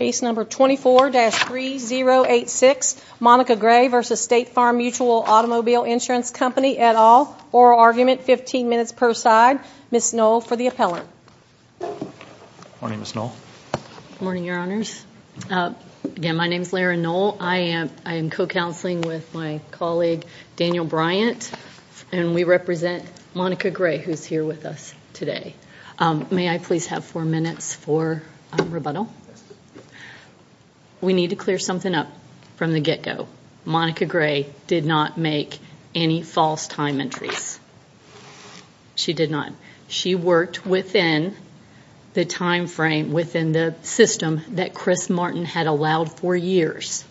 24-3086 Monica Gray v. State Farm Mutual Automobile Insurance Company, et al. Oral argument, 15 minutes per side. Ms. Knoll for the appellant. Good morning, Ms. Knoll. Good morning, Your Honors. Again, my name is Lara Knoll. I am co-counseling with my colleague, Daniel Bryant, and we represent Monica Gray, who is here with us today. May I please have four minutes for rebuttal? We need to clear something up from the get-go. Monica Gray did not make any false time entries. She did not. She worked within the time frame, within the system that Chris Martin had allowed for years.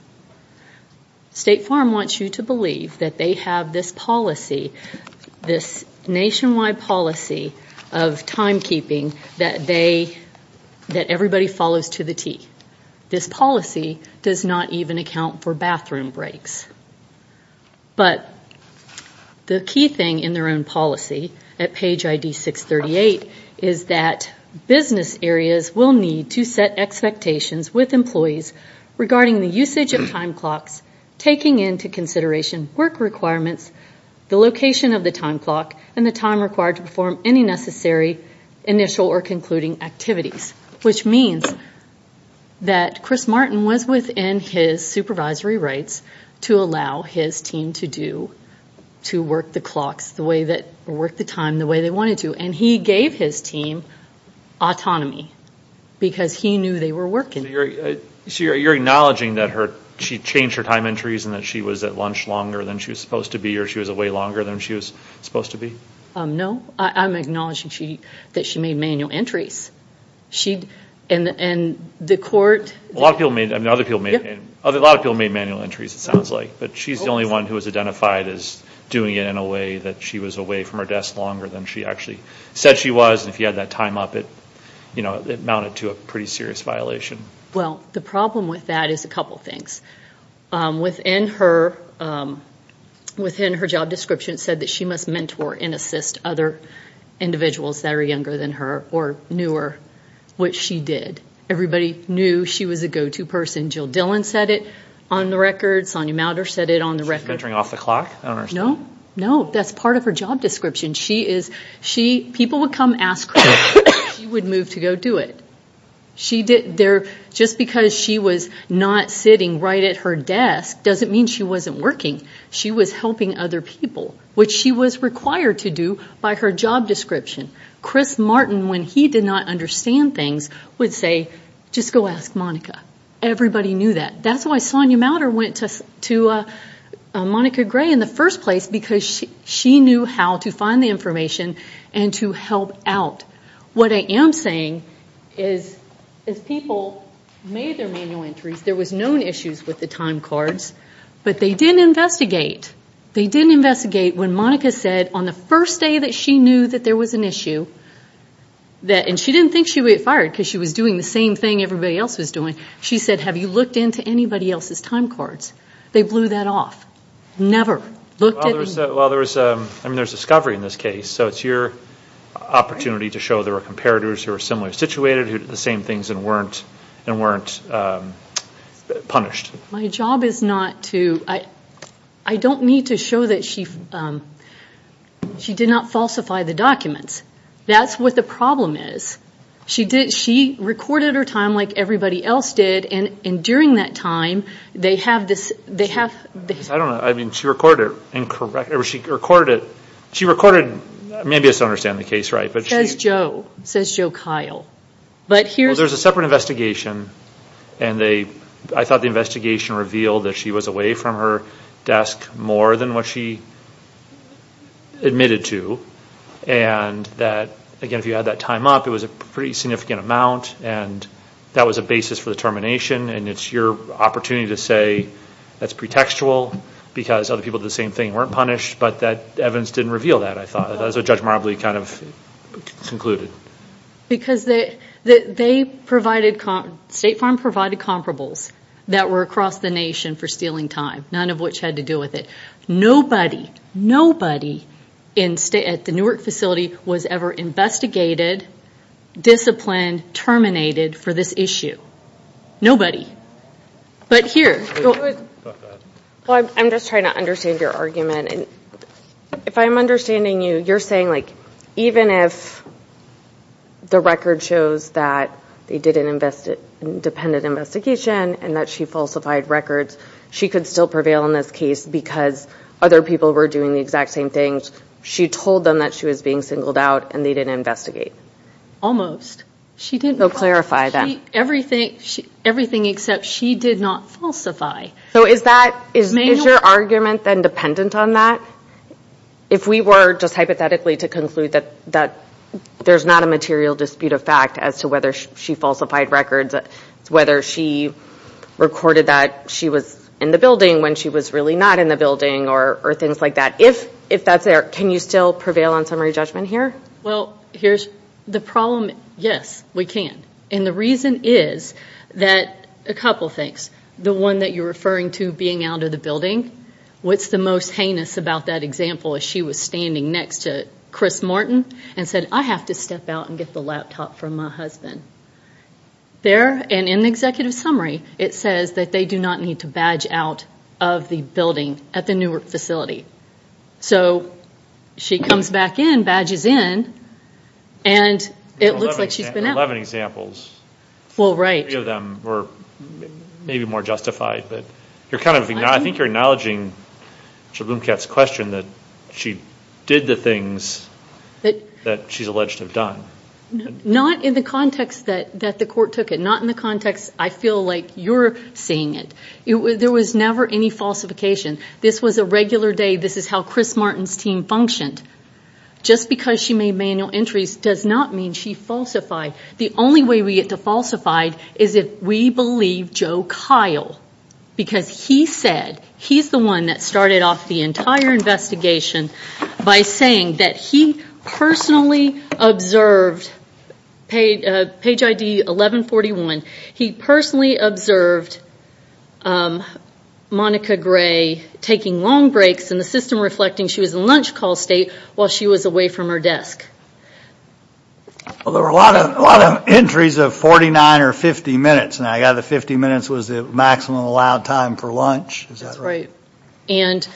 State Farm wants you to believe that they have this policy, this nationwide policy of timekeeping that everybody follows to the T. This policy does not even account for bathroom breaks. But the key thing in their own policy, at page ID 638, is that business areas will need to set expectations with employees regarding the usage of time clocks, taking into consideration work requirements, the location of the time clock, and the time required to perform any necessary initial or concluding activities. Which means that Chris Martin was within his supervisory rights to allow his team to work the time the way they wanted to. And he gave his team autonomy because he knew they were working. So you're acknowledging that she changed her time entries and that she was at lunch longer than she was supposed to be or she was away longer than she was supposed to be? No. I'm acknowledging that she made manual entries. And the court... A lot of people made manual entries, it sounds like. But she's the only one who was identified as doing it in a way that she was away from her desk longer than she actually said she was. And if you had that time up, it amounted to a pretty serious violation. Well, the problem with that is a couple of things. Within her job description, it said that she must mentor and assist other individuals that are younger than her or newer, which she did. Everybody knew she was a go-to person. Jill Dillon said it on the record. Sonia Mauter said it on the record. She was mentoring off the clock? I don't understand. No. No, that's part of her job description. People would come ask her and she would move to go do it. Just because she was not sitting right at her desk doesn't mean she wasn't working. She was helping other people, which she was required to do by her job description. Chris Martin, when he did not understand things, would say, just go ask Monica. Everybody knew that. That's why Sonia Mauter went to Monica Gray in the first place, because she knew how to find the information and to help out. What I am saying is as people made their manual entries, there was known issues with the time cards, but they didn't investigate. They didn't investigate when Monica said on the first day that she knew that there was an issue, and she didn't think she would get fired because she was doing the same thing everybody else was doing. She said, have you looked into anybody else's time cards? They blew that off. Well, there's discovery in this case, so it's your opportunity to show there were comparators who were similarly situated who did the same things and weren't punished. My job is not to – I don't need to show that she did not falsify the documents. That's what the problem is. She recorded her time like everybody else did, and during that time they have this – I don't know. I mean, she recorded it incorrectly. She recorded – maybe I still don't understand the case right. It says Joe. It says Joe Kyle. Well, there's a separate investigation, and I thought the investigation revealed that she was away from her desk more than what she admitted to, and that, again, if you add that time up, it was a pretty significant amount, and that was a basis for the termination, and it's your opportunity to say that's pretextual because other people did the same thing and weren't punished, but that evidence didn't reveal that, I thought. That's what Judge Marbley kind of concluded. Because State Farm provided comparables that were across the nation for stealing time, none of which had to do with it. Nobody, nobody at the Newark facility was ever investigated, disciplined, terminated for this issue. Nobody. But here. I'm just trying to understand your argument. If I'm understanding you, you're saying like even if the record shows that they did an independent investigation and that she falsified records, she could still prevail in this case because other people were doing the exact same things. She told them that she was being singled out and they didn't investigate. Almost. So clarify that. Everything except she did not falsify. So is that, is your argument then dependent on that? If we were just hypothetically to conclude that there's not a material dispute of fact as to whether she falsified records, whether she recorded that she was in the building when she was really not in the building or things like that. If that's there, can you still prevail on summary judgment here? Well, here's the problem. Yes, we can. And the reason is that a couple things. The one that you're referring to, being out of the building, what's the most heinous about that example is she was standing next to Chris Martin and said, I have to step out and get the laptop from my husband. There, and in the executive summary, it says that they do not need to badge out of the building at the Newark facility. So she comes back in, badges in, and it looks like she's been out. There are 11 examples. Well, right. Three of them were maybe more justified, but I think you're acknowledging Shalom Katz's question that she did the things that she's alleged to have done. Not in the context that the court took it. Not in the context I feel like you're seeing it. There was never any falsification. This was a regular day. This is how Chris Martin's team functioned. Just because she made manual entries does not mean she falsified. The only way we get to falsified is if we believe Joe Kyle, because he said he's the one that started off the entire investigation by saying that he personally observed, page ID 1141, he personally observed Monica Gray taking long breaks in the system reflecting she was in lunch call state while she was away from her desk. Well, there were a lot of entries of 49 or 50 minutes, and I gather 50 minutes was the maximum allowed time for lunch. Is that right? And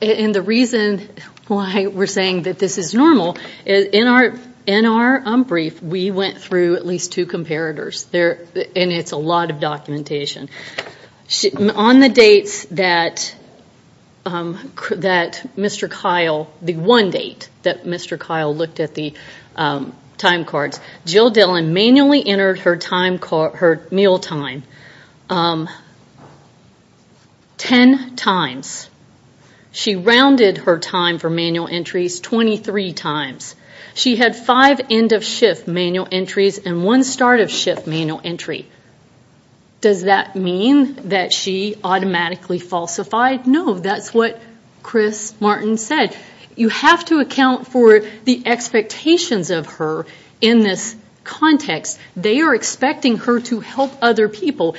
the reason why we're saying that this is normal, in our brief we went through at least two comparators, and it's a lot of documentation. On the dates that Mr. Kyle, the one date that Mr. Kyle looked at the time cards, Jill Dillon manually entered her meal time. Ten times. She rounded her time for manual entries 23 times. She had five end of shift manual entries and one start of shift manual entry. Does that mean that she automatically falsified? No, that's what Chris Martin said. You have to account for the expectations of her in this context. They are expecting her to help other people.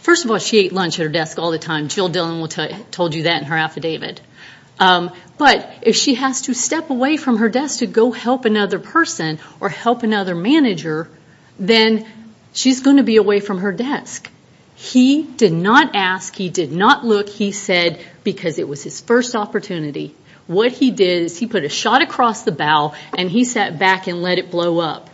First of all, she ate lunch at her desk all the time. Jill Dillon told you that in her affidavit. But if she has to step away from her desk to go help another person or help another manager, then she's going to be away from her desk. He did not ask. He did not look. He said because it was his first opportunity. What he did is he put a shot across the bowel, and he sat back and let it blow up.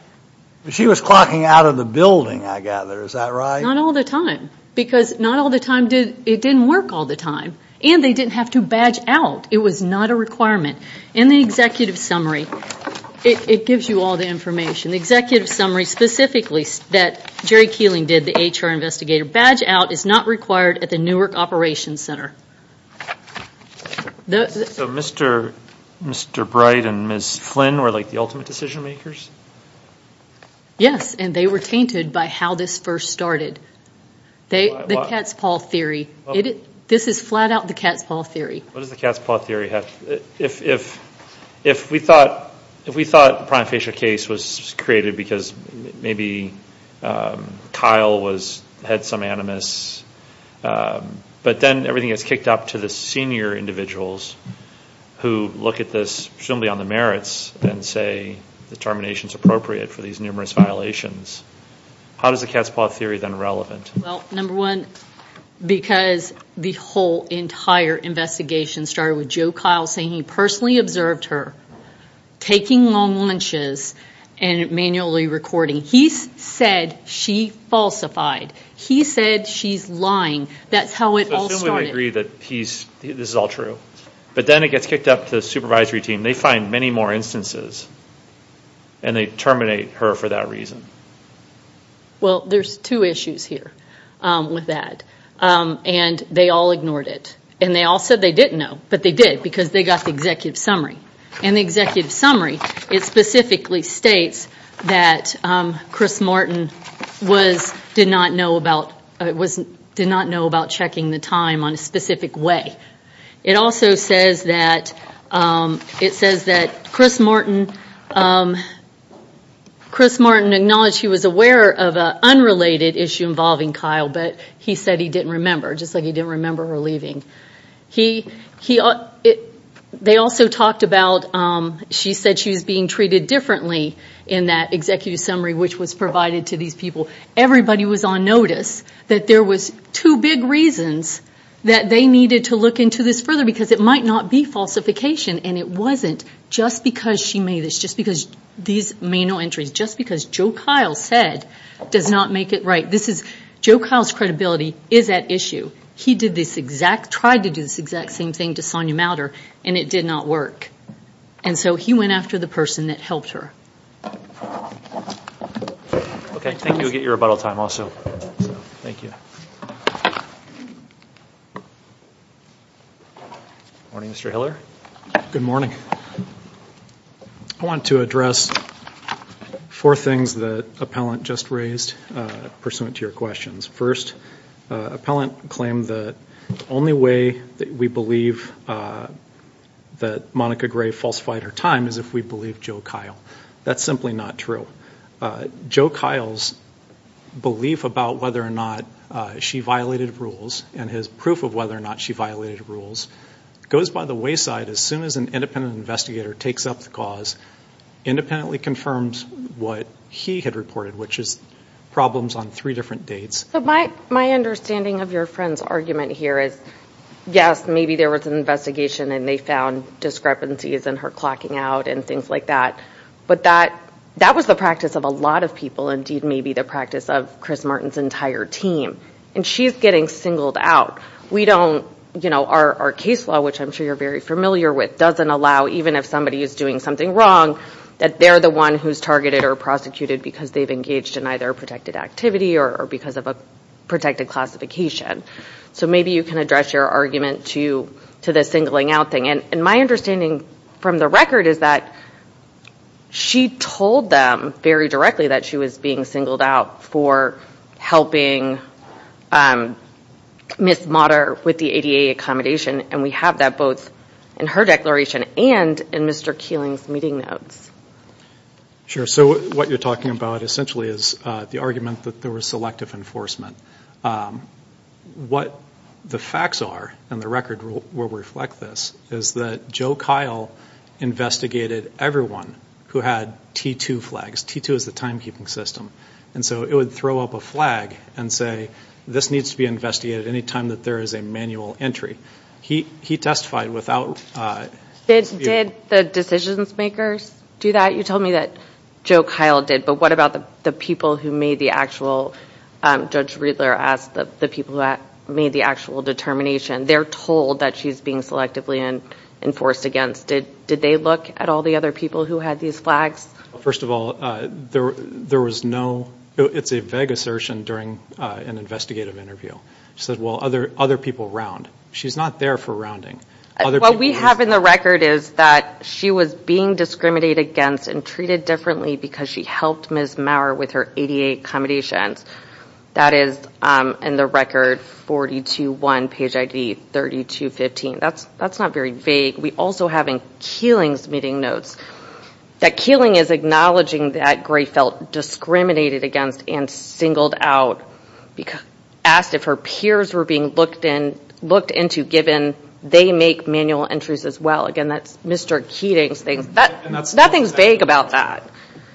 She was clocking out of the building, I gather. Is that right? Not all the time. Because it didn't work all the time. And they didn't have to badge out. It was not a requirement. In the executive summary, it gives you all the information. The executive summary specifically that Jerry Keeling did, the HR investigator, badge out is not required at the Newark Operations Center. So Mr. Bright and Ms. Flynn were the ultimate decision makers? Yes. And they were tainted by how this first started. The cat's paw theory. This is flat out the cat's paw theory. What does the cat's paw theory have? If we thought the prime facial case was created because maybe Kyle had some animus, but then everything gets kicked up to the senior individuals who look at this presumably on the merits and say the termination is appropriate for these numerous violations, how is the cat's paw theory then relevant? Well, number one, because the whole entire investigation started with Joe Kyle saying he personally observed her taking long lunches and manually recording. He said she falsified. He said she's lying. That's how it all started. So Flynn would agree that this is all true. But then it gets kicked up to the supervisory team. They find many more instances. And they terminate her for that reason. Well, there's two issues here with that. And they all ignored it. And they all said they didn't know. But they did because they got the executive summary. And the executive summary, it specifically states that Chris Martin did not know about checking the time on a specific way. It also says that Chris Martin acknowledged he was aware of an unrelated issue involving Kyle, but he said he didn't remember, just like he didn't remember her leaving. They also talked about she said she was being treated differently in that executive summary which was provided to these people. Everybody was on notice that there was two big reasons that they needed to look into this further, because it might not be falsification. And it wasn't just because she made this, just because these manual entries, just because Joe Kyle said does not make it right. Joe Kyle's credibility is at issue. He tried to do this exact same thing to Sonya Mowder, and it did not work. And so he went after the person that helped her. Okay. Thank you. I'll get your rebuttal time also. Thank you. Good morning, Mr. Hiller. Good morning. I want to address four things that an appellant just raised pursuant to your questions. First, an appellant claimed the only way that we believe that Monica Gray falsified her time is if we believe Joe Kyle. That's simply not true. Joe Kyle's belief about whether or not she violated rules and his proof of whether or not she violated rules goes by the wayside as soon as an independent investigator takes up the cause, independently confirms what he had reported, which is problems on three different dates. My understanding of your friend's argument here is, yes, maybe there was an investigation and they found discrepancies in her clocking out and things like that. But that was the practice of a lot of people, indeed maybe the practice of Chris Martin's entire team. And she's getting singled out. Our case law, which I'm sure you're very familiar with, doesn't allow, even if somebody is doing something wrong, that they're the one who's targeted or prosecuted because they've engaged in either a protected activity or because of a protected classification. So maybe you can address your argument to the singling out thing. And my understanding from the record is that she told them very directly that she was being singled out for helping Ms. Motter with the ADA accommodation, and we have that both in her declaration and in Mr. Keeling's meeting notes. Sure. So what you're talking about essentially is the argument that there was selective enforcement. What the facts are, and the record will reflect this, is that Joe Kyle investigated everyone who had T2 flags. T2 is the timekeeping system. And so it would throw up a flag and say, this needs to be investigated any time that there is a manual entry. He testified without. Did the decisions makers do that? You told me that Joe Kyle did. But what about the people who made the actual – Judge Riedler asked the people who made the actual determination. They're told that she's being selectively enforced against. Did they look at all the other people who had these flags? First of all, there was no – it's a vague assertion during an investigative interview. She said, well, other people round. She's not there for rounding. What we have in the record is that she was being discriminated against and treated differently because she helped Ms. Maurer with her 88 accommodations. That is in the record 42-1 page ID, 32-15. That's not very vague. We also have in Keeling's meeting notes that Keeling is acknowledging that Gray felt discriminated against and singled out, asked if her peers were being looked into given they make manual entries as well. Again, that's Mr. Keeling's thing. Nothing's vague about that.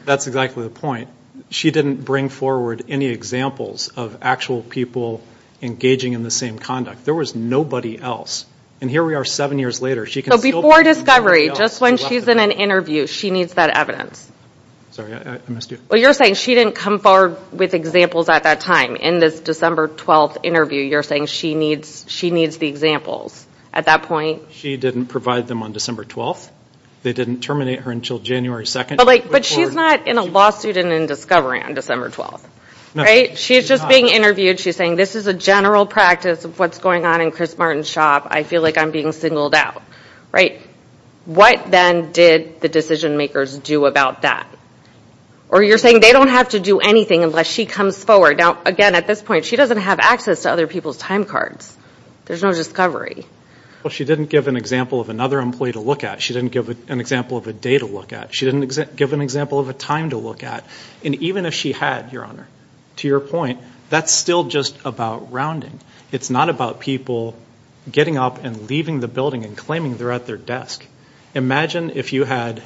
That's exactly the point. She didn't bring forward any examples of actual people engaging in the same conduct. There was nobody else. And here we are seven years later. Before discovery, just when she's in an interview, she needs that evidence. Sorry, I missed you. Well, you're saying she didn't come forward with examples at that time. In this December 12th interview, you're saying she needs the examples at that point. She didn't provide them on December 12th. They didn't terminate her until January 2nd. But she's not in a lawsuit and in discovery on December 12th. She's just being interviewed. She's saying this is a general practice of what's going on in Chris Martin's shop. I feel like I'm being singled out. What then did the decision makers do about that? Or you're saying they don't have to do anything unless she comes forward. Now, again, at this point, she doesn't have access to other people's time cards. There's no discovery. Well, she didn't give an example of another employee to look at. She didn't give an example of a day to look at. She didn't give an example of a time to look at. And even if she had, Your Honor, to your point, that's still just about rounding. It's not about people getting up and leaving the building and claiming they're at their desk. Imagine if you had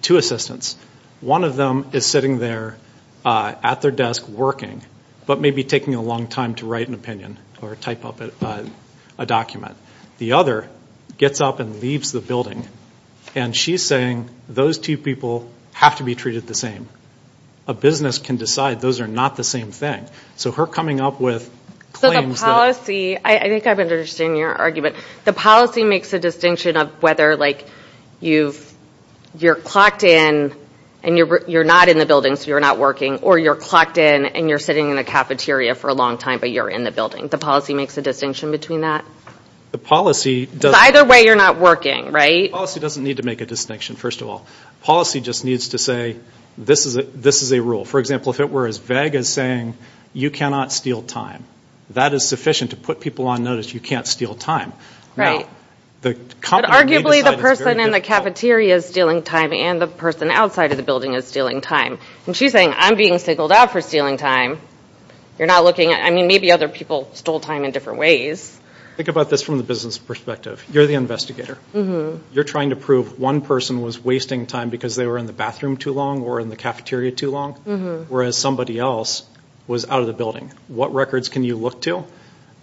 two assistants. One of them is sitting there at their desk working but may be taking a long time to write an opinion or type up a document. The other gets up and leaves the building. And she's saying those two people have to be treated the same. A business can decide those are not the same thing. So her coming up with claims that So the policy, I think I understand your argument. The policy makes a distinction of whether, like, you're clocked in and you're not in the building so you're not working or you're clocked in and you're sitting in a cafeteria for a long time but you're in the building. The policy makes a distinction between that? Because either way you're not working, right? The policy doesn't need to make a distinction, first of all. The policy just needs to say this is a rule. For example, if it were as vague as saying you cannot steal time, that is sufficient to put people on notice you can't steal time. But arguably the person in the cafeteria is stealing time and the person outside of the building is stealing time. And she's saying I'm being singled out for stealing time. You're not looking at, I mean, maybe other people stole time in different ways. Think about this from the business perspective. You're the investigator. You're trying to prove one person was wasting time because they were in the bathroom too long or in the cafeteria too long, whereas somebody else was out of the building. What records can you look to?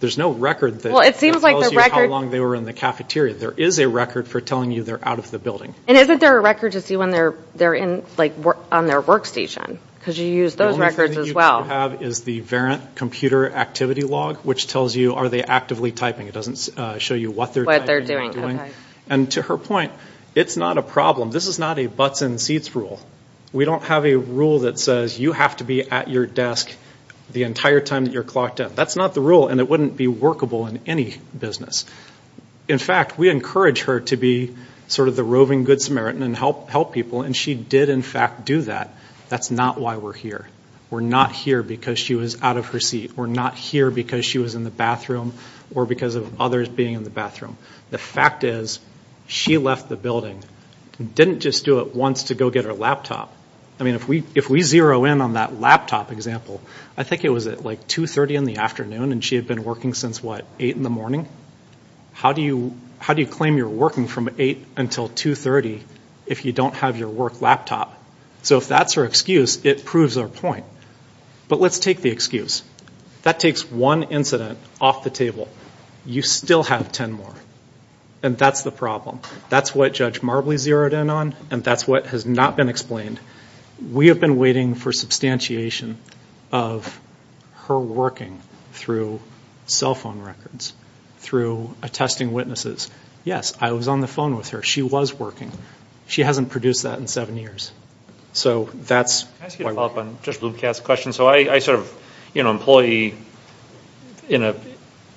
There's no record that tells you how long they were in the cafeteria. There is a record for telling you they're out of the building. And isn't there a record to see when they're on their workstation? Because you use those records as well. The only thing you have is the variant computer activity log which tells you are they actively typing. It doesn't show you what they're typing or doing. And to her point, it's not a problem. This is not a butts in seats rule. We don't have a rule that says you have to be at your desk the entire time that you're clocked up. That's not the rule, and it wouldn't be workable in any business. In fact, we encourage her to be sort of the roving Good Samaritan and help people, and she did, in fact, do that. That's not why we're here. We're not here because she was out of her seat. We're not here because she was in the bathroom or because of others being in the bathroom. The fact is she left the building and didn't just do it once to go get her laptop. I mean, if we zero in on that laptop example, I think it was at, like, 2.30 in the afternoon, and she had been working since, what, 8 in the morning? How do you claim you're working from 8 until 2.30 if you don't have your work laptop? So if that's her excuse, it proves her point. But let's take the excuse. That takes one incident off the table. You still have ten more, and that's the problem. That's what Judge Marbley zeroed in on, and that's what has not been explained. We have been waiting for substantiation of her working through cell phone records, through attesting witnesses. Yes, I was on the phone with her. She was working. She hasn't produced that in seven years. So that's why we're here. So I sort of, you know, employee in an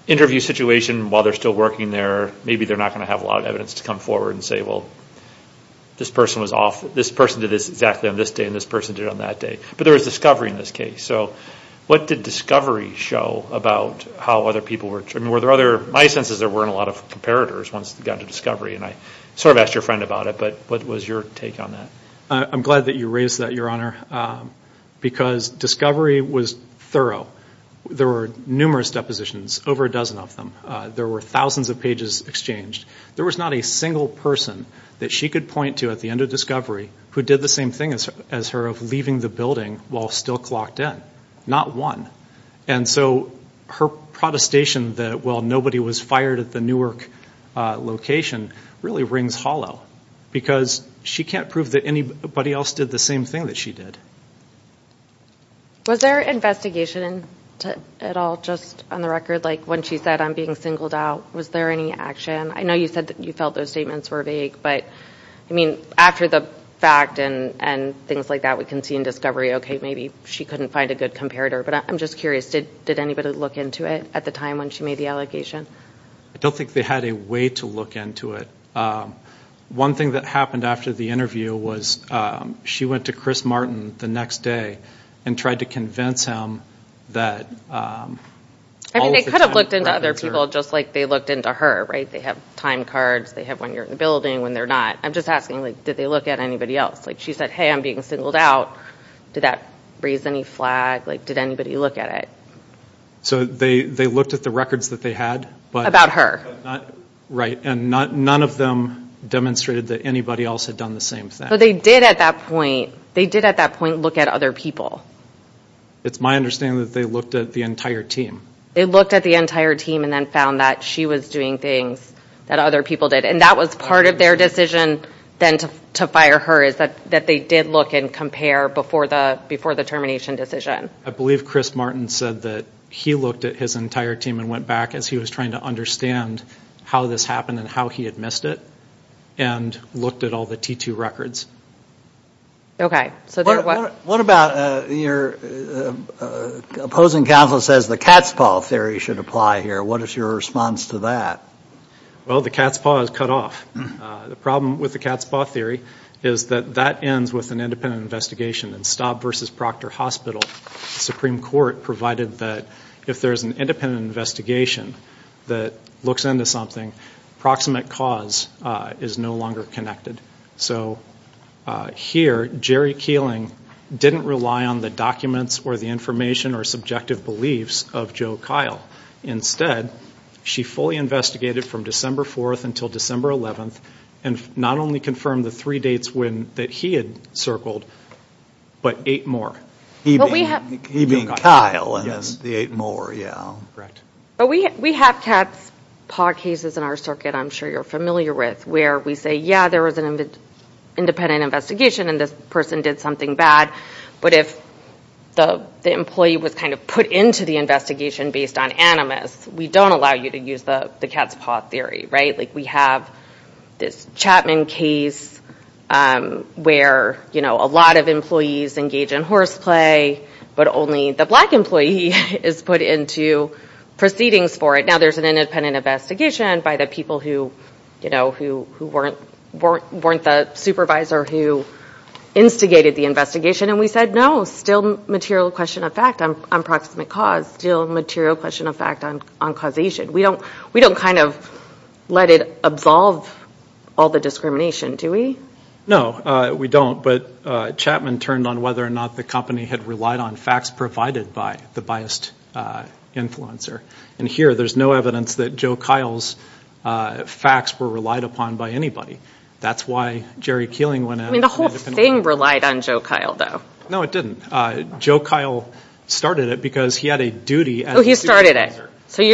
interview situation while they're still working there, maybe they're not going to have a lot of evidence to come forward and say, well, this person was off. This person did this exactly on this day, and this person did it on that day. But there was discovery in this case. So what did discovery show about how other people were? I mean, were there other? My sense is there weren't a lot of comparators once it got to discovery, and I sort of asked your friend about it, but what was your take on that? I'm glad that you raised that, Your Honor, because discovery was thorough. There were numerous depositions, over a dozen of them. There were thousands of pages exchanged. There was not a single person that she could point to at the end of discovery who did the same thing as her of leaving the building while still clocked in, not one. And so her protestation that, well, nobody was fired at the Newark location really rings hollow because she can't prove that anybody else did the same thing that she did. Was there investigation at all, just on the record? Like when she said, I'm being singled out, was there any action? I know you said that you felt those statements were vague, but, I mean, after the fact and things like that, we can see in discovery, okay, maybe she couldn't find a good comparator. But I'm just curious, did anybody look into it at the time when she made the allegation? I don't think they had a way to look into it. One thing that happened after the interview was she went to Chris Martin the next day and tried to convince him that all of the time records were- I mean, they could have looked into other people just like they looked into her, right? They have time cards, they have when you're in the building, when they're not. I'm just asking, like, did they look at anybody else? Like, she said, hey, I'm being singled out. Did that raise any flag? Like, did anybody look at it? So they looked at the records that they had. About her. Right, and none of them demonstrated that anybody else had done the same thing. But they did at that point look at other people. It's my understanding that they looked at the entire team. They looked at the entire team and then found that she was doing things that other people did. And that was part of their decision then to fire her, is that they did look and compare before the termination decision. I believe Chris Martin said that he looked at his entire team and went back as he was trying to understand how this happened and how he had missed it and looked at all the T2 records. What about your opposing counsel says the cat's paw theory should apply here. What is your response to that? Well, the cat's paw is cut off. The problem with the cat's paw theory is that that ends with an independent investigation and Staub v. Proctor Hospital, the Supreme Court, provided that if there's an independent investigation that looks into something, proximate cause is no longer connected. So here, Jerry Keeling didn't rely on the documents or the information or subjective beliefs of Joe Kyle. Instead, she fully investigated from December 4th until December 11th and not only confirmed the three dates that he had circled, but eight more. He being Kyle and the eight more, yeah. But we have cat's paw cases in our circuit I'm sure you're familiar with where we say, yeah, there was an independent investigation and this person did something bad. But if the employee was kind of put into the investigation based on animus, we don't allow you to use the cat's paw theory, right? Like we have this Chapman case where a lot of employees engage in horseplay, but only the black employee is put into proceedings for it. Now there's an independent investigation by the people who weren't the supervisor who instigated the investigation, and we said, no, still material question of fact on proximate cause, still material question of fact on causation. We don't kind of let it absolve all the discrimination, do we? No, we don't. But Chapman turned on whether or not the company had relied on facts provided by the biased influencer. And here there's no evidence that Joe Kyle's facts were relied upon by anybody. That's why Jerry Keeling went out. I mean the whole thing relied on Joe Kyle though. No, it didn't. Joe Kyle started it because he had a duty as a supervisor. Oh, he started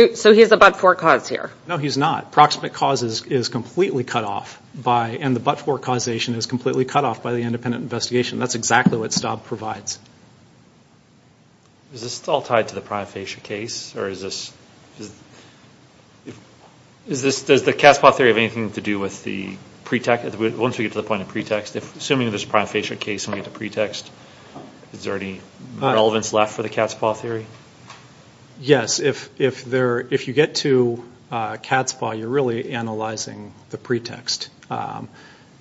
it. So he's a but-for cause here. No, he's not. Proximate cause is completely cut off, and the but-for causation is completely cut off by the independent investigation. That's exactly what STOB provides. Is this all tied to the prime fascia case? Does the cat's paw theory have anything to do with the pretext? Once we get to the point of pretext, assuming there's a prime fascia case and we get to pretext, is there any relevance left for the cat's paw theory? Yes. If you get to cat's paw, you're really analyzing the pretext.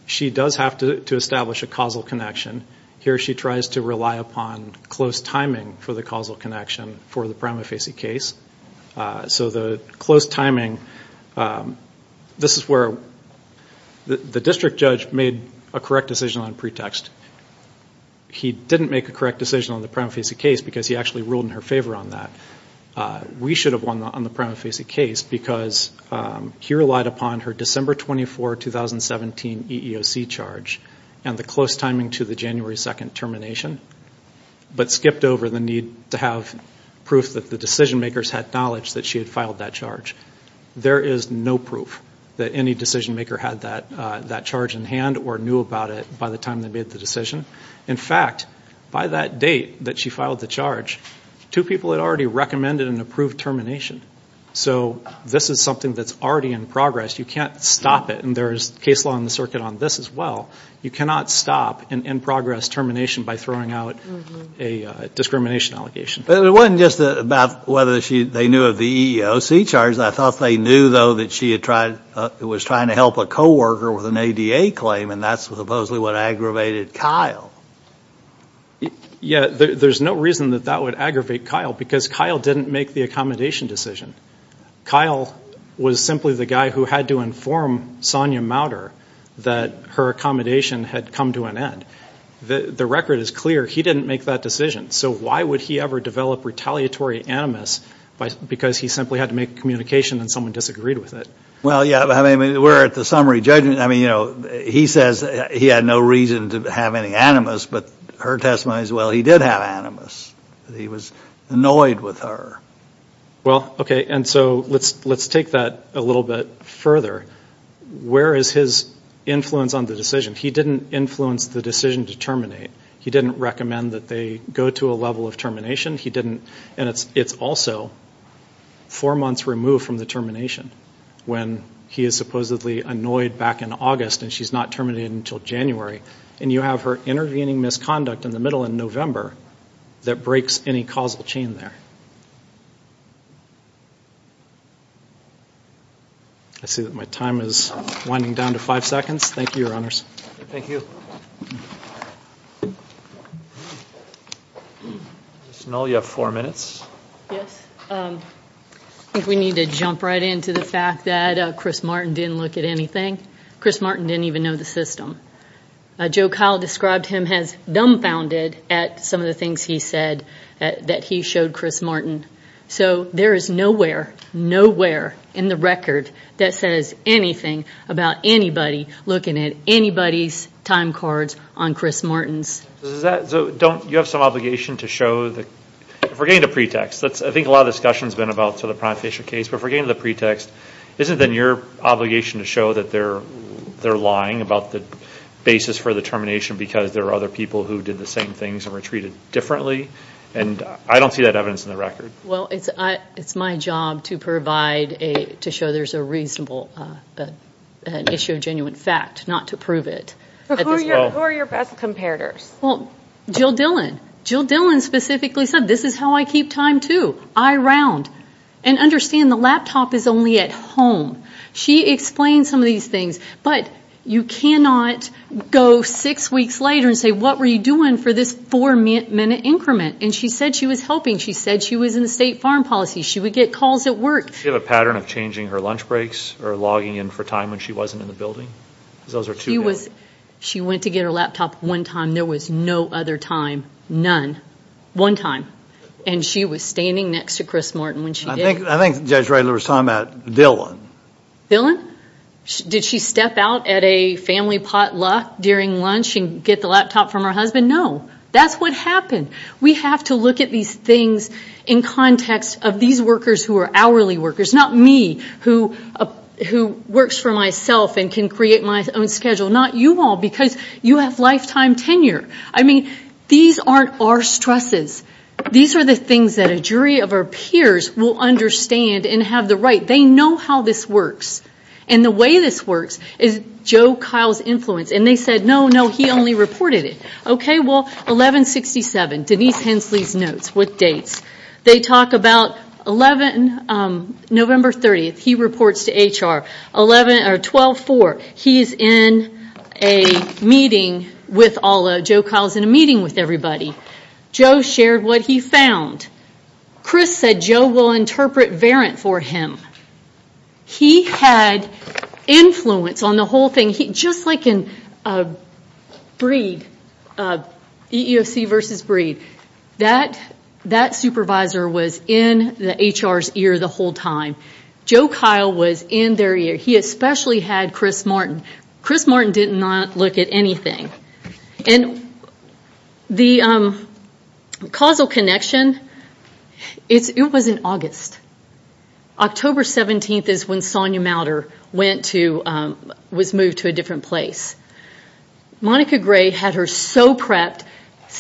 She does have to establish a causal connection. Here she tries to rely upon close timing for the causal connection for the prime fascia case. So the close timing, this is where the district judge made a correct decision on pretext. He didn't make a correct decision on the prime fascia case because he actually ruled in her favor on that. We should have won on the prime fascia case because he relied upon her December 24, 2017 EEOC charge and the close timing to the January 2 termination, but skipped over the need to have proof that the decision makers had knowledge that she had filed that charge. There is no proof that any decision maker had that charge in hand or knew about it by the time they made the decision. In fact, by that date that she filed the charge, two people had already recommended an approved termination. So this is something that's already in progress. You can't stop it, and there's case law in the circuit on this as well. You cannot stop an in-progress termination by throwing out a discrimination allegation. It wasn't just about whether they knew of the EEOC charge. I thought they knew, though, that she was trying to help a co-worker with an ADA claim, and that's supposedly what aggravated Kyle. Yeah, there's no reason that that would aggravate Kyle because Kyle didn't make the accommodation decision. Kyle was simply the guy who had to inform Sonia Mauter that her accommodation had come to an end. The record is clear. He didn't make that decision, so why would he ever develop retaliatory animus because he simply had to make a communication and someone disagreed with it? Well, yeah, I mean, we're at the summary judgment. I mean, you know, he says he had no reason to have any animus, but her testimony is, well, he did have animus. He was annoyed with her. Well, okay, and so let's take that a little bit further. Where is his influence on the decision? He didn't influence the decision to terminate. He didn't recommend that they go to a level of termination. It's also four months removed from the termination when he is supposedly annoyed back in August and she's not terminated until January, and you have her intervening misconduct in the middle in November that breaks any causal chain there. I see that my time is winding down to five seconds. Thank you, Your Honors. Thank you. Ms. Null, you have four minutes. Yes. I think we need to jump right into the fact that Chris Martin didn't look at anything. Chris Martin didn't even know the system. Joe Kyle described him as dumbfounded at some of the things he said that he showed Chris Martin. So there is nowhere, nowhere in the record that says anything about anybody looking at anybody's time cards on Chris Martin's. So you have some obligation to show the – if we're getting to pretext, I think a lot of the discussion has been about the prime facial case, but if we're getting to the pretext, isn't then your obligation to show that they're lying about the basis for the termination because there are other people who did the same things and were treated differently? And I don't see that evidence in the record. Well, it's my job to provide a – to show there's a reasonable issue, a genuine fact, not to prove it. Who are your best comparators? Well, Jill Dillon. Jill Dillon specifically said, this is how I keep time too. I round. And understand the laptop is only at home. She explained some of these things, but you cannot go six weeks later and say, what were you doing for this four-minute increment? And she said she was helping. She said she was in the State Farm Policy. She would get calls at work. Does she have a pattern of changing her lunch breaks or logging in for time when she wasn't in the building? Because those are two different – She was – she went to get her laptop one time. There was no other time. None. One time. And she was standing next to Chris Martin when she did. I think Judge Reitler was talking about Dillon. Did she step out at a family potluck during lunch and get the laptop from her husband? No. That's what happened. We have to look at these things in context of these workers who are hourly workers. Not me, who works for myself and can create my own schedule. Not you all, because you have lifetime tenure. I mean, these aren't our stresses. These are the things that a jury of our peers will understand and have the right. They know how this works. And the way this works is Joe Kyle's influence. And they said, no, no, he only reported it. Okay, well, 1167, Denise Hensley's notes with dates. They talk about 11 – November 30th, he reports to HR. 12-4, he's in a meeting with all – Joe Kyle's in a meeting with everybody. Joe shared what he found. Chris said Joe will interpret Verrant for him. He had influence on the whole thing. Just like in Breed, EEOC versus Breed, that supervisor was in the HR's ear the whole time. Joe Kyle was in their ear. He especially had Chris Martin. Chris Martin did not look at anything. And the causal connection, it was in August. October 17th is when Sonia Mauter went to – was moved to a different place. Monica Gray had her so prepped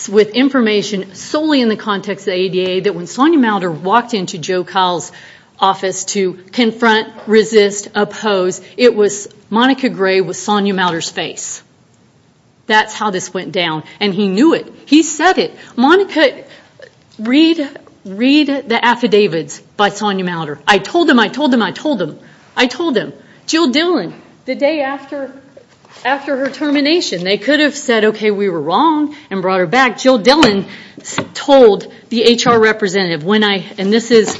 with information solely in the context of the ADA that when Sonia Mauter walked into Joe Kyle's office to confront, resist, oppose, it was Monica Gray with Sonia Mauter's face. That's how this went down. And he knew it. He said it. Monica, read the affidavits by Sonia Mauter. I told him, I told him, I told him, I told him. Jill Dillon, the day after her termination, they could have said, okay, we were wrong and brought her back. Jill Dillon told the HR representative when I – and this is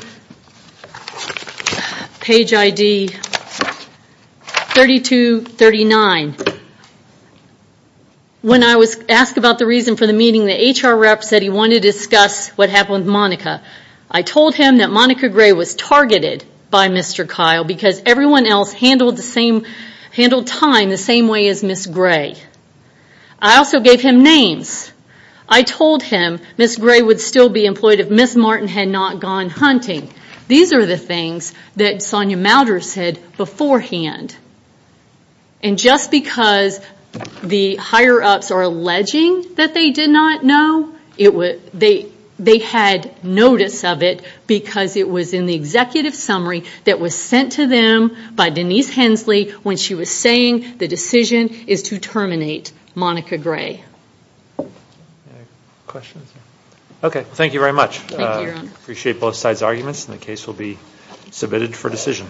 page ID 3239. When I was asked about the reason for the meeting, the HR rep said he wanted to discuss what happened with Monica. I told him that Monica Gray was targeted by Mr. Kyle because everyone else handled time the same way as Ms. Gray. I also gave him names. I told him Ms. Gray would still be employed if Ms. Martin had not gone hunting. These are the things that Sonia Mauter said beforehand. And just because the higher-ups are alleging that they did not know, they had notice of it because it was in the executive summary that was sent to them by Denise Hensley when she was saying the decision is to terminate Monica Gray. Okay, thank you very much. Thank you, Your Honor. I appreciate both sides' arguments, and the case will be submitted for decision.